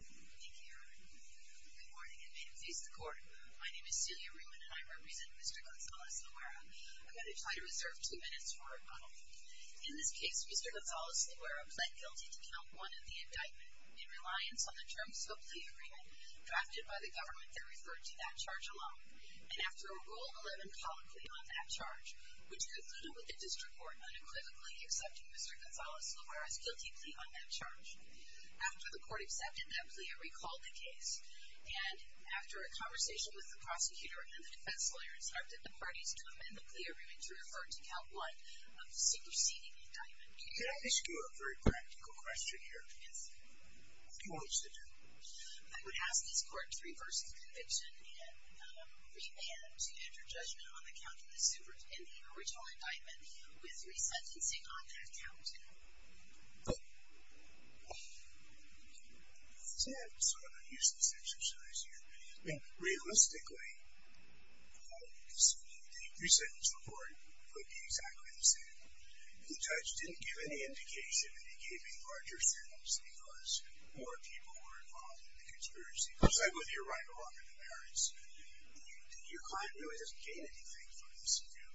Good morning, and may it please the Court, my name is Celia Ruin and I represent Mr. Gonzalez-Loera. I'm going to try to reserve two minutes for a rebuttal. In this case, Mr. Gonzalez-Loera pled guilty to count one of the indictment, in reliance on the terms of a plea agreement drafted by the government that referred to that charge alone. And after a Rule 11 public plea on that charge, which concluded with the District Court unequivocally accepting Mr. Gonzalez-Loera's guilty plea on that charge, after the Court accepted that plea, it recalled the case. And after a conversation with the prosecutor and the defense lawyer, it started the parties to amend the plea agreement to refer to count one of the superseding indictment. Can I ask you a very practical question here? Yes. What do you want me to do? I would ask this Court to reverse the conviction and remand to enter judgment on the count of the superseding the original indictment, with resentencing on that count. Okay. So I'm going to use this exercise here. Realistically, I would assume the resentence report would be exactly the same. The judge didn't give any indication that he gave any larger sentence because more people were involved in the conspiracy. Just like with your right-of-offer comparison, your client really doesn't gain anything from this, do you?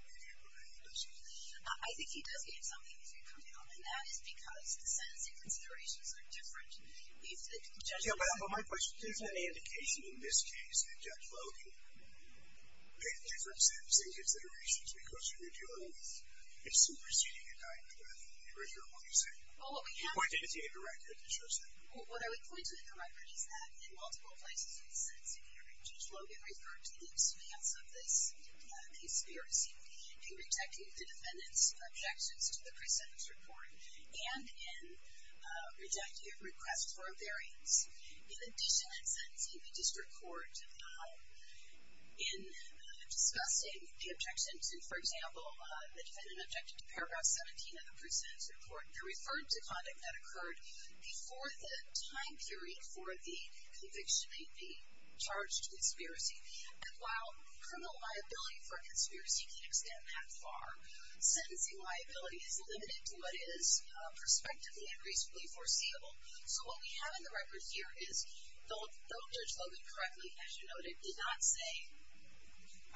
I think he does gain something. And that is because the sentencing considerations are different. But my question is, is there any indication in this case that Judge Logan paid different sentencing considerations because you reviewed your own superseding indictment? Or is that what you're saying? Well, what we have— You pointed to a record that shows that. What I would point to in the record is that in multiple places in the sentencing hearing, Judge Logan referred to the expense of this conspiracy in rejecting the defendant's objections to the resentence report and in rejecting a request for a variance. In addition, in sentencing, the district court, in discussing the objections, for example, the defendant objected to paragraph 17 of the resentence report, referred to conduct that occurred before the time period for the conviction of the charged conspiracy. And while criminal liability for a conspiracy can extend that far, sentencing liability is limited to what is prospectively and reasonably foreseeable. So what we have in the record here is, though Judge Logan correctly, as you noted, did not say,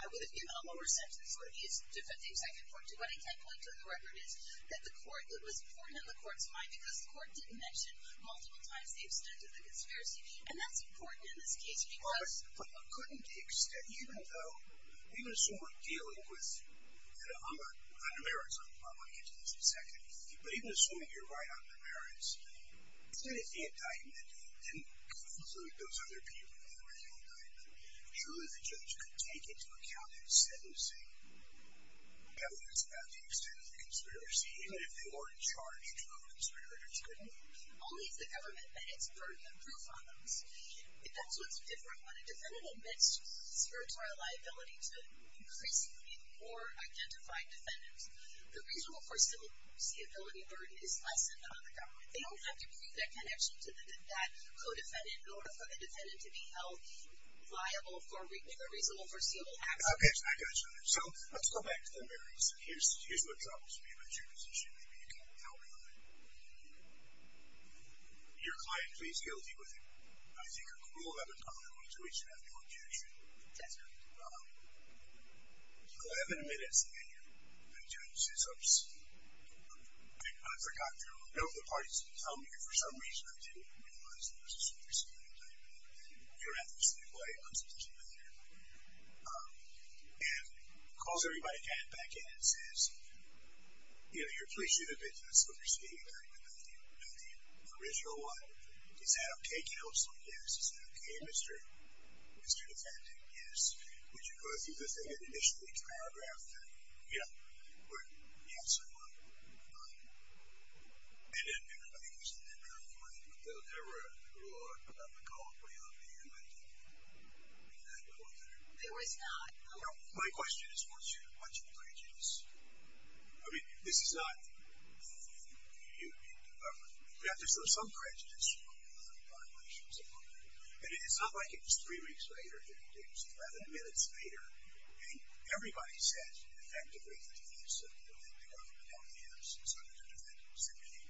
I would have given a lower sentence for these defendants I referred to, what I can point to in the record is that the court— it was important in the court's mind because the court didn't mention multiple times the extent of the conspiracy. And that's important in this case because the court couldn't extend, even though—I'm going to assume we're dealing with under merits. I want to get to this in a second. But even assuming you're right on the merits, the defendant documented it and concluded those other people with original indictment. Surely the judge could take into account in sentencing the evidence about the extent of the conspiracy, even if they weren't charged with a conspiracy, couldn't he? Only if the government admits burden of proof on those. That's what's different. When a defendant admits spiritual liability to increasingly more identified defendants, the reasonable foreseeability burden is lessened on the government. They don't have to prove their connection to that co-defendant in order for the defendant to be held liable for reasonable foreseeable action. Okay, I got you on that. So let's go back to the merits. Here's what troubles me about your position. Maybe you can't help me on it. Your client pleads guilty with, I think, a cruel, unapologetic, unadulterated act of abduction. That's correct. Eleven minutes later, the judge says, Oops, I forgot to note the part he's going to tell me and for some reason I didn't realize it was a conspiracy. You're at the same way. I'm supposed to be with you. And calls everybody back in and says, You know, you're a police individual. That's what you're speaking about. You know, the original one. Is that okay, counsel? Yes. Is that okay, Mr. Defendant? Yes. Would you go through the thing and initially paragraph that? Yeah. Yes, I would. And then everybody goes to their own point. My question is, what's your prejudice? I mean, this is not you. Yeah, there's some prejudice. And it's not like it was three weeks later. It was 11 minutes later. And everybody says, effectively,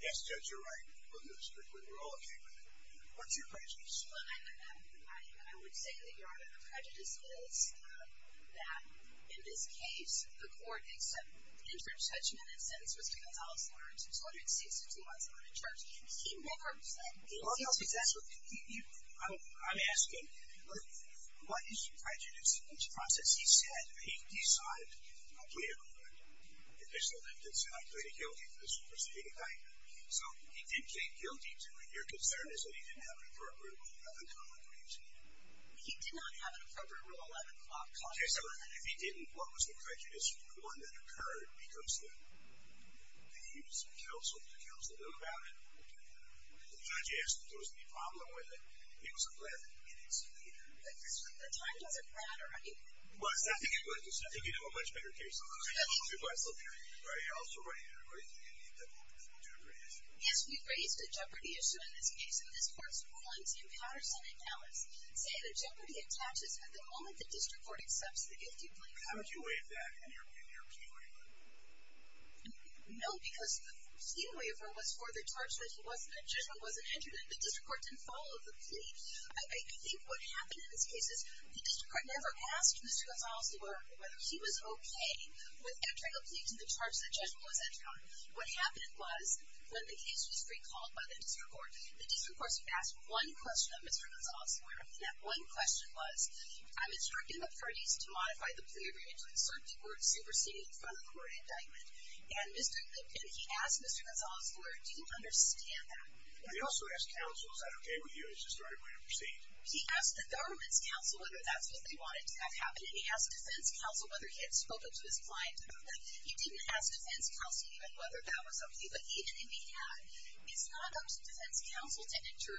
Yes, Judge, you're right. We're all okay with it. What's your prejudice? Well, I would say that part of the prejudice is that in this case, the court accepted the interim judgment and sentenced Mr. Gonzalez-Lawrence, who's 162 months out of charge. He never said that. I'm asking, what is your prejudice in this process? As he said, he decided, okay, I'm going to do it. If there's something that's not going to kill me, this is what's going to happen. So he did plead guilty to it. Your concern is that he didn't have an appropriate rule of 11 o'clock when he was seated. He did not have an appropriate rule of 11 o'clock. Okay, so if he didn't, what was the prejudice for the one that occurred because he was a counsel? Did the counsel know about it? The judge asked if there was any problem with it, and he was 11 minutes later. The time doesn't matter, right? Well, I think you do a much bigger case on that. You also raised the jeopardy issue. Yes, we raised the jeopardy issue in this case, and this court's rulings in Patterson and Alice say that jeopardy attaches at the moment the district court accepts the guilty plea. How did you weigh that in your plea? No, because the plea waiver was for the charge that the judge wasn't injured and the district court didn't follow the plea. I think what happened in this case is the district court never asked Mr. Gonzalez-Lewer whether he was okay with entering a plea to the charge that judgment was entered on. What happened was when the case was recalled by the district court, the district court asked one question of Mr. Gonzalez-Lewer, and that one question was, I'm instructing the parties to modify the plea waiver into an uncertainty word superseded from the court indictment. And he asked Mr. Gonzalez-Lewer, do you understand that? He also asked counsel, is that okay with you? Is this the right way to proceed? He asked the government's counsel whether that's what they wanted to have happen, and he asked defense counsel whether he had spoken to his client about that. He didn't ask defense counsel even whether that was okay, but even if he had, it's not up to defense counsel to enter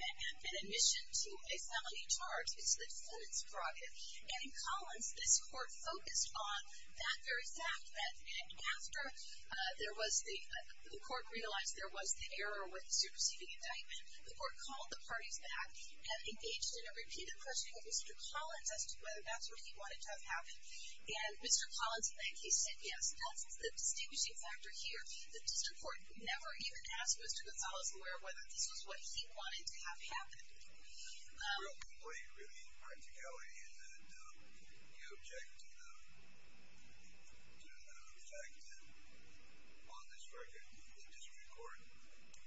an admission to a felony charge. It's the defendant's prerogative. And in Collins, this court focused on that very fact, and after the court realized there was an error with the superseding indictment, the court called the parties back and engaged in a repeated question of Mr. Collins as to whether that's what he wanted to have happen. And Mr. Collins, in that case, said yes. That's the distinguishing factor here. The district court never even asked Mr. Gonzalez-Lewer whether this was what he wanted to have happen. Real complete, really, impracticality is that we object to the fact that on this record, the district court,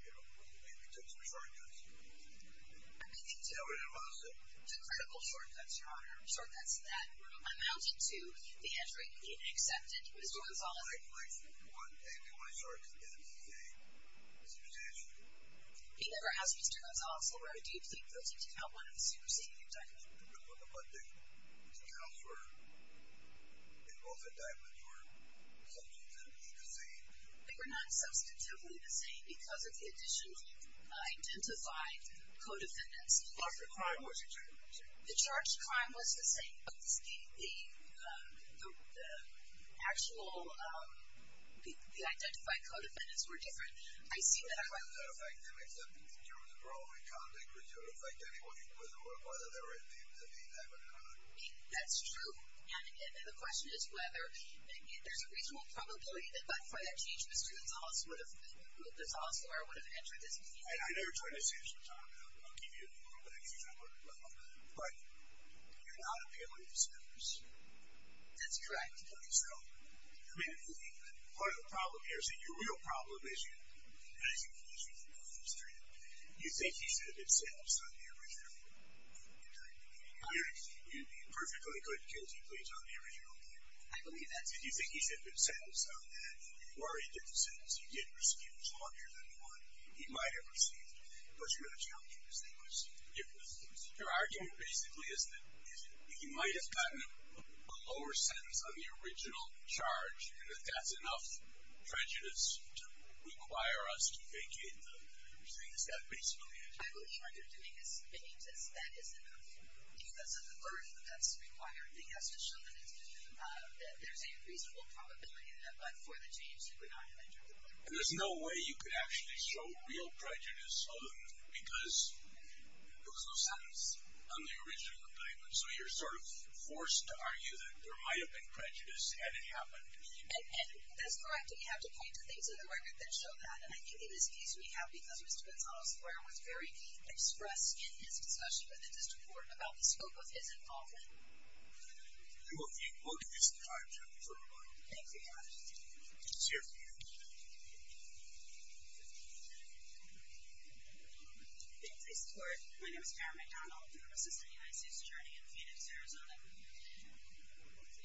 you know, maybe took some shortcuts. I mean, he took critical shortcuts, shortcuts that amounted to the entering the accepted Mr. Gonzalez-Lewer. He never asked Mr. Gonzalez-Lewer, do you think that you took out one of the superseding indictments? No, but the accounts were in both indictments were substantially the same. They were not substantively the same because of the additional identified co-defendants. The charged crime was exactly the same. The charged crime was the same, but the actual identified co-defendants were different. I see that I'm right. But that doesn't affect them, except in terms of parole and conduct. It doesn't affect anyone, whether they're in the indictment or not. That's true. And the question is whether there's a reasonable probability that by far that change, Mr. Gonzalez-Lewer would have entered this case. I know you're trying to save some time. I'll give you a little bit of extra time. But you're not appealing to senators. That's correct. Okay, so part of the problem here, see, the real problem is you think he should have been sentenced on the original charge. You perfectly could, because he pleads on the original charge. I believe that. You think he should have been sentenced on that. Or he didn't get the sentence. He didn't receive it. It was longer than the one he might have received. But you're going to challenge him to say, let's see what the difference is. Your argument basically is that he might have gotten a lower sentence on the original indictment. And you have to point to things like that. But you have to show that there's a reasonable probability that by far the change he would not have entered. And there's no way you could actually show real prejudice other than because there was no sentence on the original indictment. So you're sort of forced to argue that there might have been prejudice had it happened. And that's correct. But you have to point to things in the record that show that. And I think it is easy to have because Mr. McDonnell's lawyer was very express in his discussion. But this is important about the scope of his involvement. You will be quoted this time, Jennifer McDonnell. Thank you, Your Honor. Let's hear from you. Thank you, Mr. Court. My name is Karen McDonnell. I'm an assistant UIC's attorney in Phoenix, Arizona.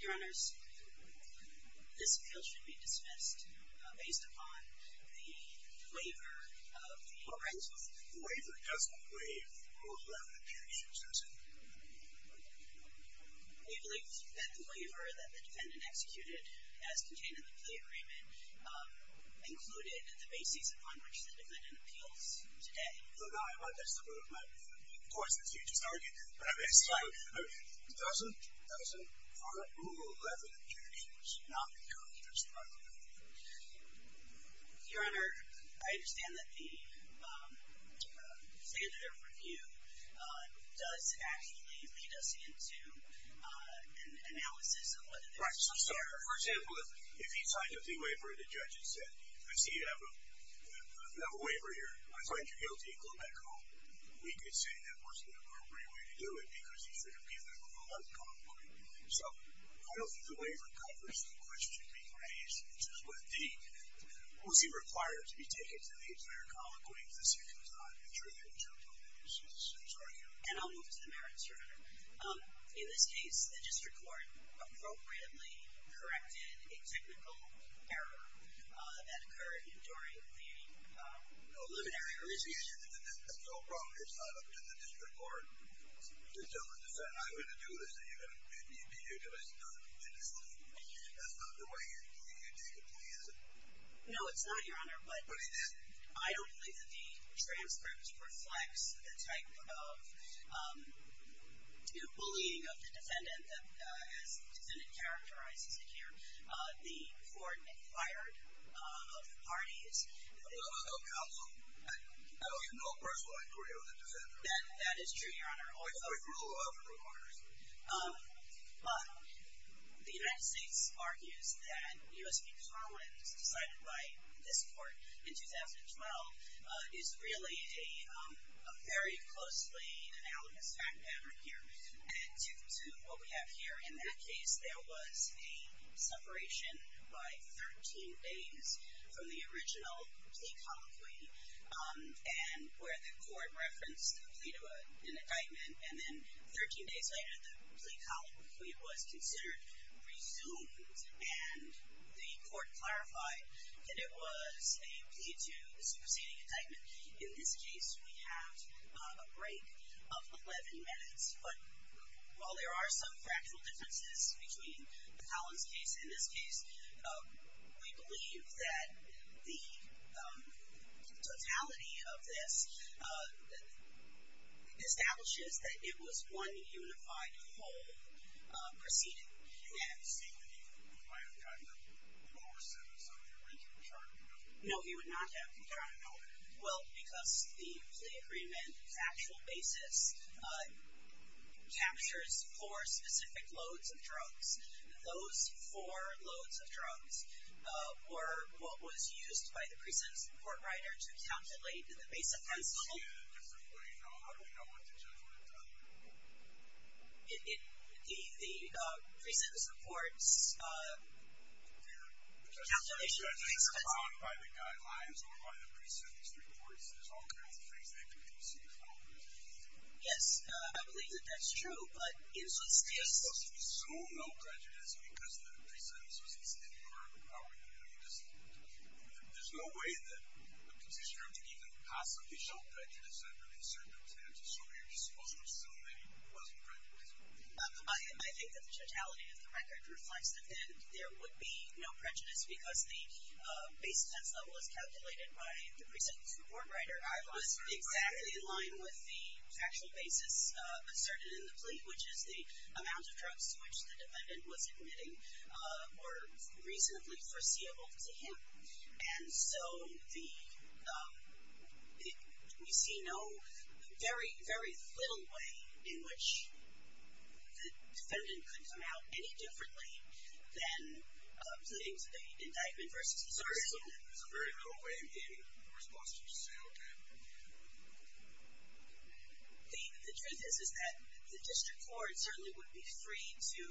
Your Honors, this appeal should be dismissed based upon the waiver of the plaintiffs. The waiver doesn't waive the rule of law that the defendant uses. We believe that the waiver that the defendant executed as contained in the plea agreement included the basis upon which the defendant appeals today. No, no. That's the rule of law. Of course, that's what you just argued. But doesn't the rule of law that the defendant uses not include the basis upon which the defendant appeals? Your Honor, I understand that the standard of review does actually lead us into an analysis of whether there is a waiver. Right. For example, if he signs a plea waiver and the judge has said, I see you have a waiver here. I find you guilty. Go back home. We could say that was the appropriate way to do it because he should have given the rule of law to convict him. So I don't think the waiver covers the question being raised, which is, was he required to be taken to the examiner convict when he physically was not injured in the chokehold? I'm sorry, Karen. And I'll move to the merits, Your Honor. In this case, the district court appropriately corrected a technical error that occurred during the preliminary review. The issue that's so wrong, it's not up to the district court to tell the defendant, I'm going to do this, and you're going to beat me to it because it doesn't meet the discipline. That's not the way you take a plea, is it? No, it's not, Your Honor. But it is. I don't believe that the transcript reflects the type of bullying of the defendant as the defendant characterizes it here. The court acquired of the parties. Counsel, I don't have no personal inquiry over the defendant. That is true, Your Honor. Oh, you don't? No, I have no inquiries. The United States argues that U.S. v. Maryland decided to write this court in 2012 is really a very closely analogous fact matter here. And to what we have here in that case, there was a separation by 13 days from the original plea colloquy, and where the court referenced the plea to an indictment. And then 13 days later, the plea colloquy was considered resumed, and the court clarified that it was a plea to the superseding indictment. In this case, we have a break of 11 minutes. But while there are some factual differences between the Collins case and this case, we believe that the totality of this establishes that it was one unified whole proceeding. And you say that he would not have gotten a lower sentence under the Lincoln Charter? No, he would not have. Why not? Well, because the plea agreement's actual basis captures four specific loads of drugs. And those four loads of drugs were what was used by the pre-sentence report writer to calculate the base offense level. By the guidelines or by the pre-sentence reports, there's all kinds of things that could be perceived. Yes, I believe that that's true. But in this case, there's supposed to be so no prejudice because the pre-sentence was inferred. There's no way that a petitioner could even possibly show prejudice under these circumstances. So you're just supposed to assume that he wasn't prejudiced. I think that the totality of the record reflects that then there would be no prejudice because the base offense level is calculated by the pre-sentence report writer. I was exactly in line with the actual basis asserted in the plea, which is the amount of drugs to which the defendant was admitting were reasonably foreseeable to him. And so we see very, very little way in which the defendant could come out any differently than putting to the indictment versus the pre-sentence report. So very little way in response to what you just said, OK. The truth is that the district court certainly would be free to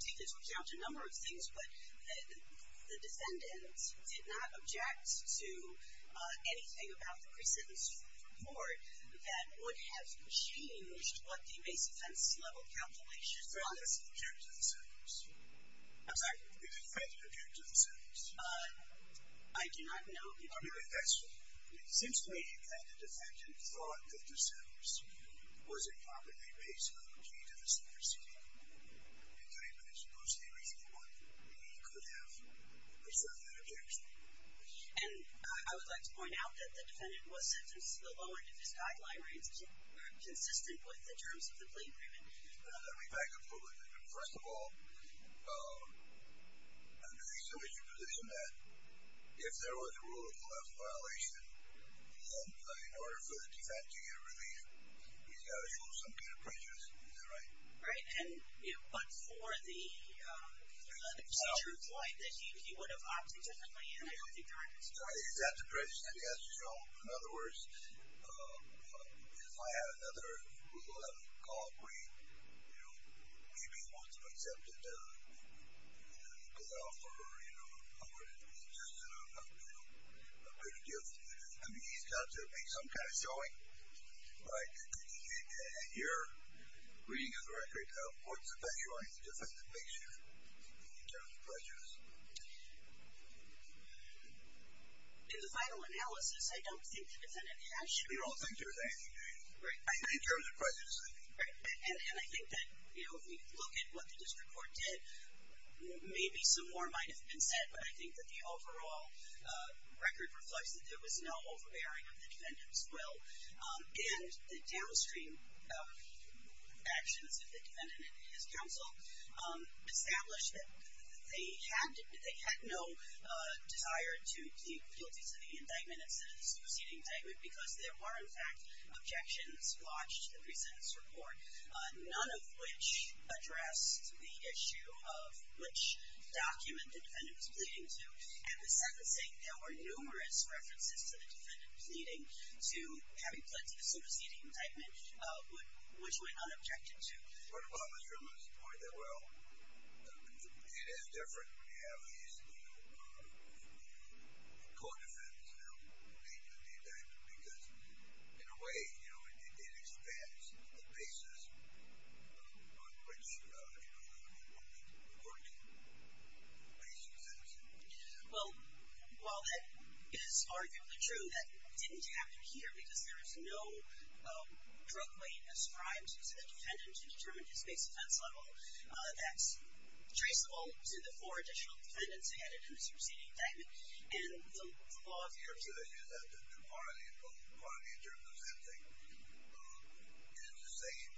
take this account to a number of things. But the defendant did not object to anything about the pre-sentence report that would have changed what the base offense level calculation was. Did the defendant object to the sentence? I'm sorry? Did the defendant object to the sentence? I do not know. I mean, if that's true. It seems to me that the defendant thought that the sentence was improperly raised on the pre-to-the-sentence proceeding and claimed that it was mostly reasonable that he could have asserted that objection. And I would like to point out that the defendant was sentenced to the lower end of his guideline where it's consistent with the terms of the plea agreement. Let me back up a little bit. First of all, I'm going to assume as your position that if there was a rule of left violation, then in order for the defendant to get a relief, he's got to show some kind of prejudice. Is that right? Right. But for the true point that he would have objected to, I don't think that's true. He's got the prejudice that he has to show. In other words, if I had another rule of left called green, maybe he would have accepted to allow for a little bit of gift. I mean, he's got to make some kind of showing. All right. And your reading of the record, of course, affects your own defense conviction in terms of prejudice. In the final analysis, I don't think the defendant has shown. You don't think there's anything to it. Right. In terms of prejudice, I mean. Right. And I think that if we look at what the district court did, maybe some more might have been said. But I think that the overall record reflects that there was no overbearing of the defendant's will. And the downstream actions of the defendant and his counsel established that they had no desire to plead guilty to the indictment instead of this preceding indictment. Because there were, in fact, objections lodged to the precedence report, none of which addressed the issue of which document the defendant was pleading to. And the sentencing, there were numerous references to the defendant pleading to having pled to the superseding indictment, which went unobjected to. What about Mr. Lewis's point that, well, it is different when you have these co-defendants now pleading to the indictment? Because in a way, it expands the basis on which the court can place the sentencing. Well, while that is arguably true, that didn't happen here, because there is no drug-related ascribed to the defendant to determine his base offense level. That's traceable to the four additional defendants who had a superseding indictment. And the law of the area. So the issue is that the quality in terms of sentencing is the same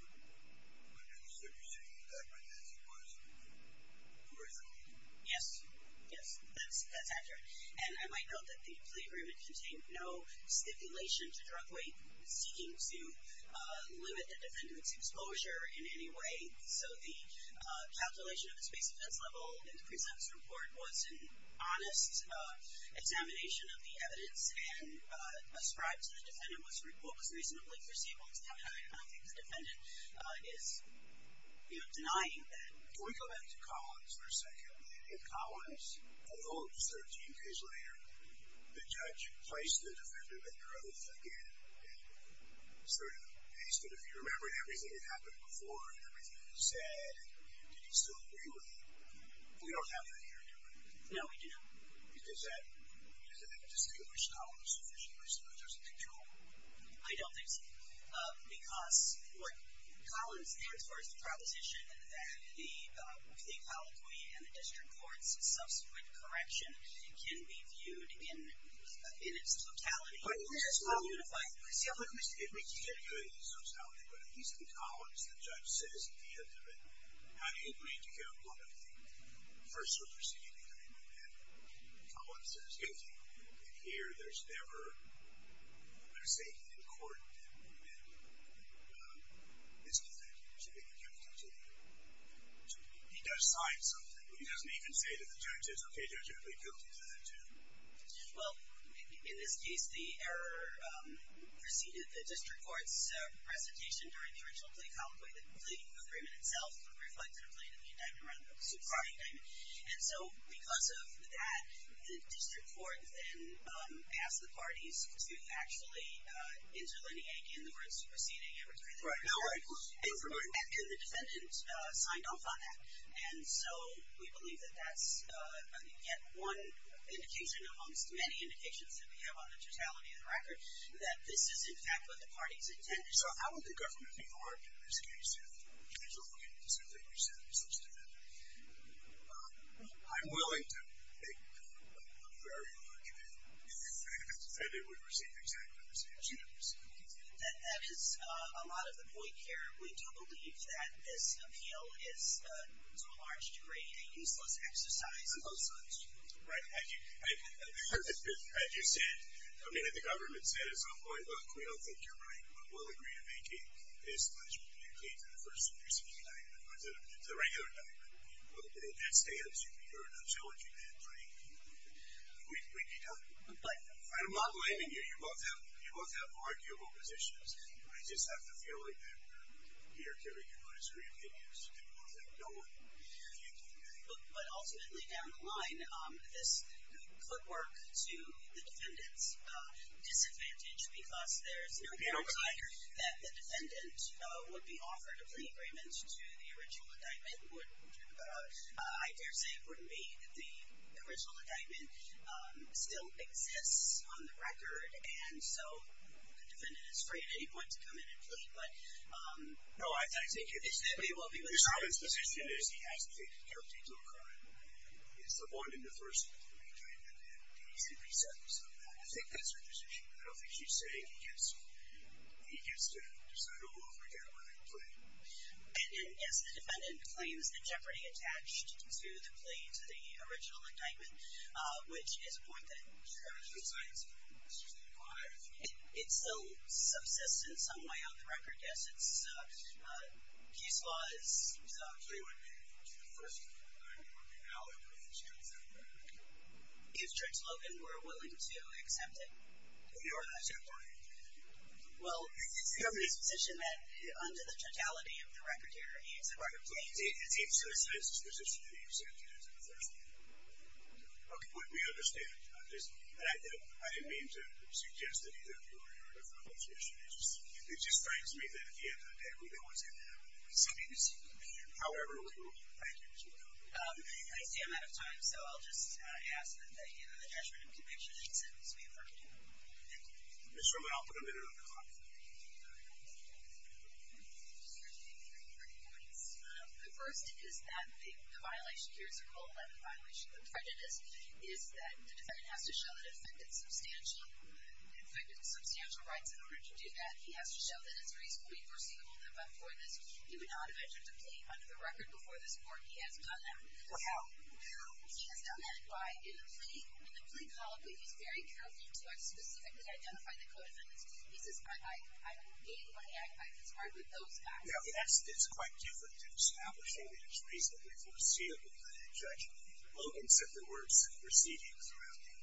under the superseding indictment as it was originally? Yes. Yes. That's accurate. And I might note that the plea agreement contained no stipulation to drug-related seeking to limit the defendant's exposure in any way. So the calculation of his base offense level in the presumptive report was an honest examination of the evidence. And ascribed to the defendant was reasonably traceable to the indictment. And I think the defendant is denying that. Can we go back to Collins for a second? In Collins, I hope, 13 days later, the judge placed the defendant at growth again and sort of asked him, if you remember everything that happened before and everything that he said, did you still agree with it? We don't have that here, do we? No, we do not. Because that doesn't distinguish Collins sufficiently, so I suppose there's a control. I don't think so. Because what Collins did, as far as the proposition that the colloquy and the district court's subsequent correction can be viewed in its totality as well unified. See, I'll put it this way. It's not viewed in its totality. But at least in Collins, the judge says at the end of it, how do you agree to go look at the first superseding the indictment? And Collins says, OK. And here, there's never, let's say, in court, that the man is guilty. He should be accountable to the jury. He does sign something. But he doesn't even say to the judges, OK, judge, you're really guilty to that, too. Well, in this case, the error preceded the district court's presentation during the original plea colloquy that the plea agreement itself would reflect a related indictment, rather than a supra-indictment. And so because of that, the district court then asked the parties to actually interlineate, again, the words superseding, everything that was said. Right. And the defendant signed off on that. And so we believe that that's yet one indication amongst many indications that we have on the totality of the record that this is, in fact, what the parties intended. So how would the government be marked in this case if they were looking at something you said that was such a defendant? I'm willing to think very much that the defendant would receive exactly the same treatment. That is a lot of the point here. We do believe that this appeal is, to a large degree, a useless exercise of such. Right. Had you said, I mean, had the government said at some point, look, we don't think you're right, but we'll agree to make it as much as you can to the first superseding argument, or to the regular argument. In that stance, you're not challenging that claim. We'd be done. Right. I'm not blaming you. You both have arguable positions. I just have the feeling that you're carrying your own disagreeing opinions, and both of them don't mean anything to me. But ultimately, down the line, this could work to the defendant's disadvantage because there's no guarantee that the defendant would be offered a plea agreement to the original indictment. I daresay it wouldn't be that the original indictment still exists on the record. And so the defendant is free at any point to come in and plead. No, I take it. We will be with you. Mr. Arvin's position is he has to take the guilty to a crime. It's the one in the first claim that he simply said. I think that's her decision. I don't think she's saying he gets to decide who will forget about that claim. And then, yes, the defendant claims that Jeopardy attached to the plea to the original indictment, which is a point that it still subsists in some way on the record. Yes, it's a case law. So he would be the first to come in and work it out, and then she would accept it. If Judge Logan were willing to accept it. You are not. Well, it's Jeopardy's position that under the totality of the record here, he is a part of Jeopardy. It's his position that he is a part of Jeopardy. OK, we understand. And I didn't mean to suggest that either of you are in a relationship. It just strikes me that we don't want to have a presumptive decision. However, we will be with you. I see I'm out of time, so I'll just ask that the judgment of conviction be accepted so we can work it out. Ms. Roman, I'll put a minute on the clock. The first is that the violation here, it's a cold left violation of the prejudice, is that the defendant has to show that it affected substantial rights in order to do that. He has to show that it's reasonably foreseeable that before this, he would not have entered the plea under the record before this court. He has done that. How? He has done that by, in the plea column, he's very careful to specifically identify the code amendments. He says, I made my act. I conspired with those guys. Yes, it's quite different to establishing that it's reasonably foreseeable. The judge, Logan, said there were some proceedings around the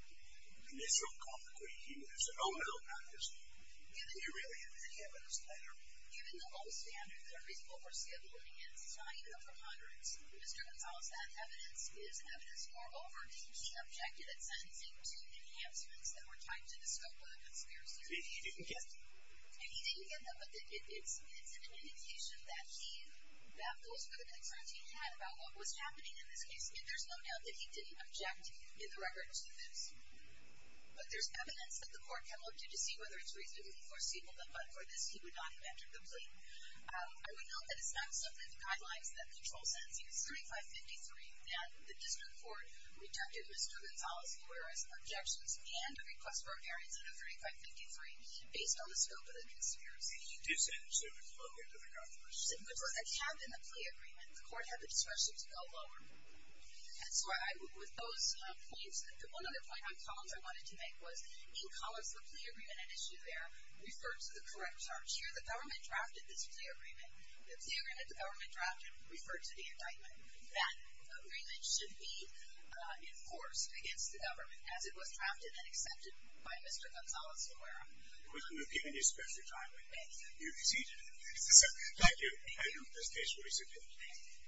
initial conviction. He said, oh, no, not this one. Do you really have any evidence there? Given the low standards and reasonable foreseeable evidence, it's not even a preponderance. Mr. Gonzalez, that evidence is evidence. Moreover, he objected at sentencing to enhancements that were tied to the scope of the conspiracy. He didn't get them. And he didn't get them, but it's an indication that he, that those were the concerns he had about what was happening in this case. And there's no doubt that he didn't object in the record to this. But there's evidence that the court can look to to see whether it's reasonably foreseeable, but for this, he would not have entered the plea. I would note that it's not something the guidelines that control sentencing 3553 that the district court rejected Mr. Gonzalez, whereas objections and a request for a variance in 3553 based on the scope of the conspiracy. He did say it was lower to the government. It had been the plea agreement. The court had the discretion to go lower. And so with those points, the one other point on Collins I wanted to make was in Collins, the plea agreement at issue there referred to the correct charge. Here, the government drafted this plea agreement. The plea agreement the government drafted referred to the indictment. And that agreement should be enforced against the government as it was drafted and accepted by Mr. Gonzalez-Aguero. Well, we've given you special time. You received it. Thank you. Thank you. This case will be submitted.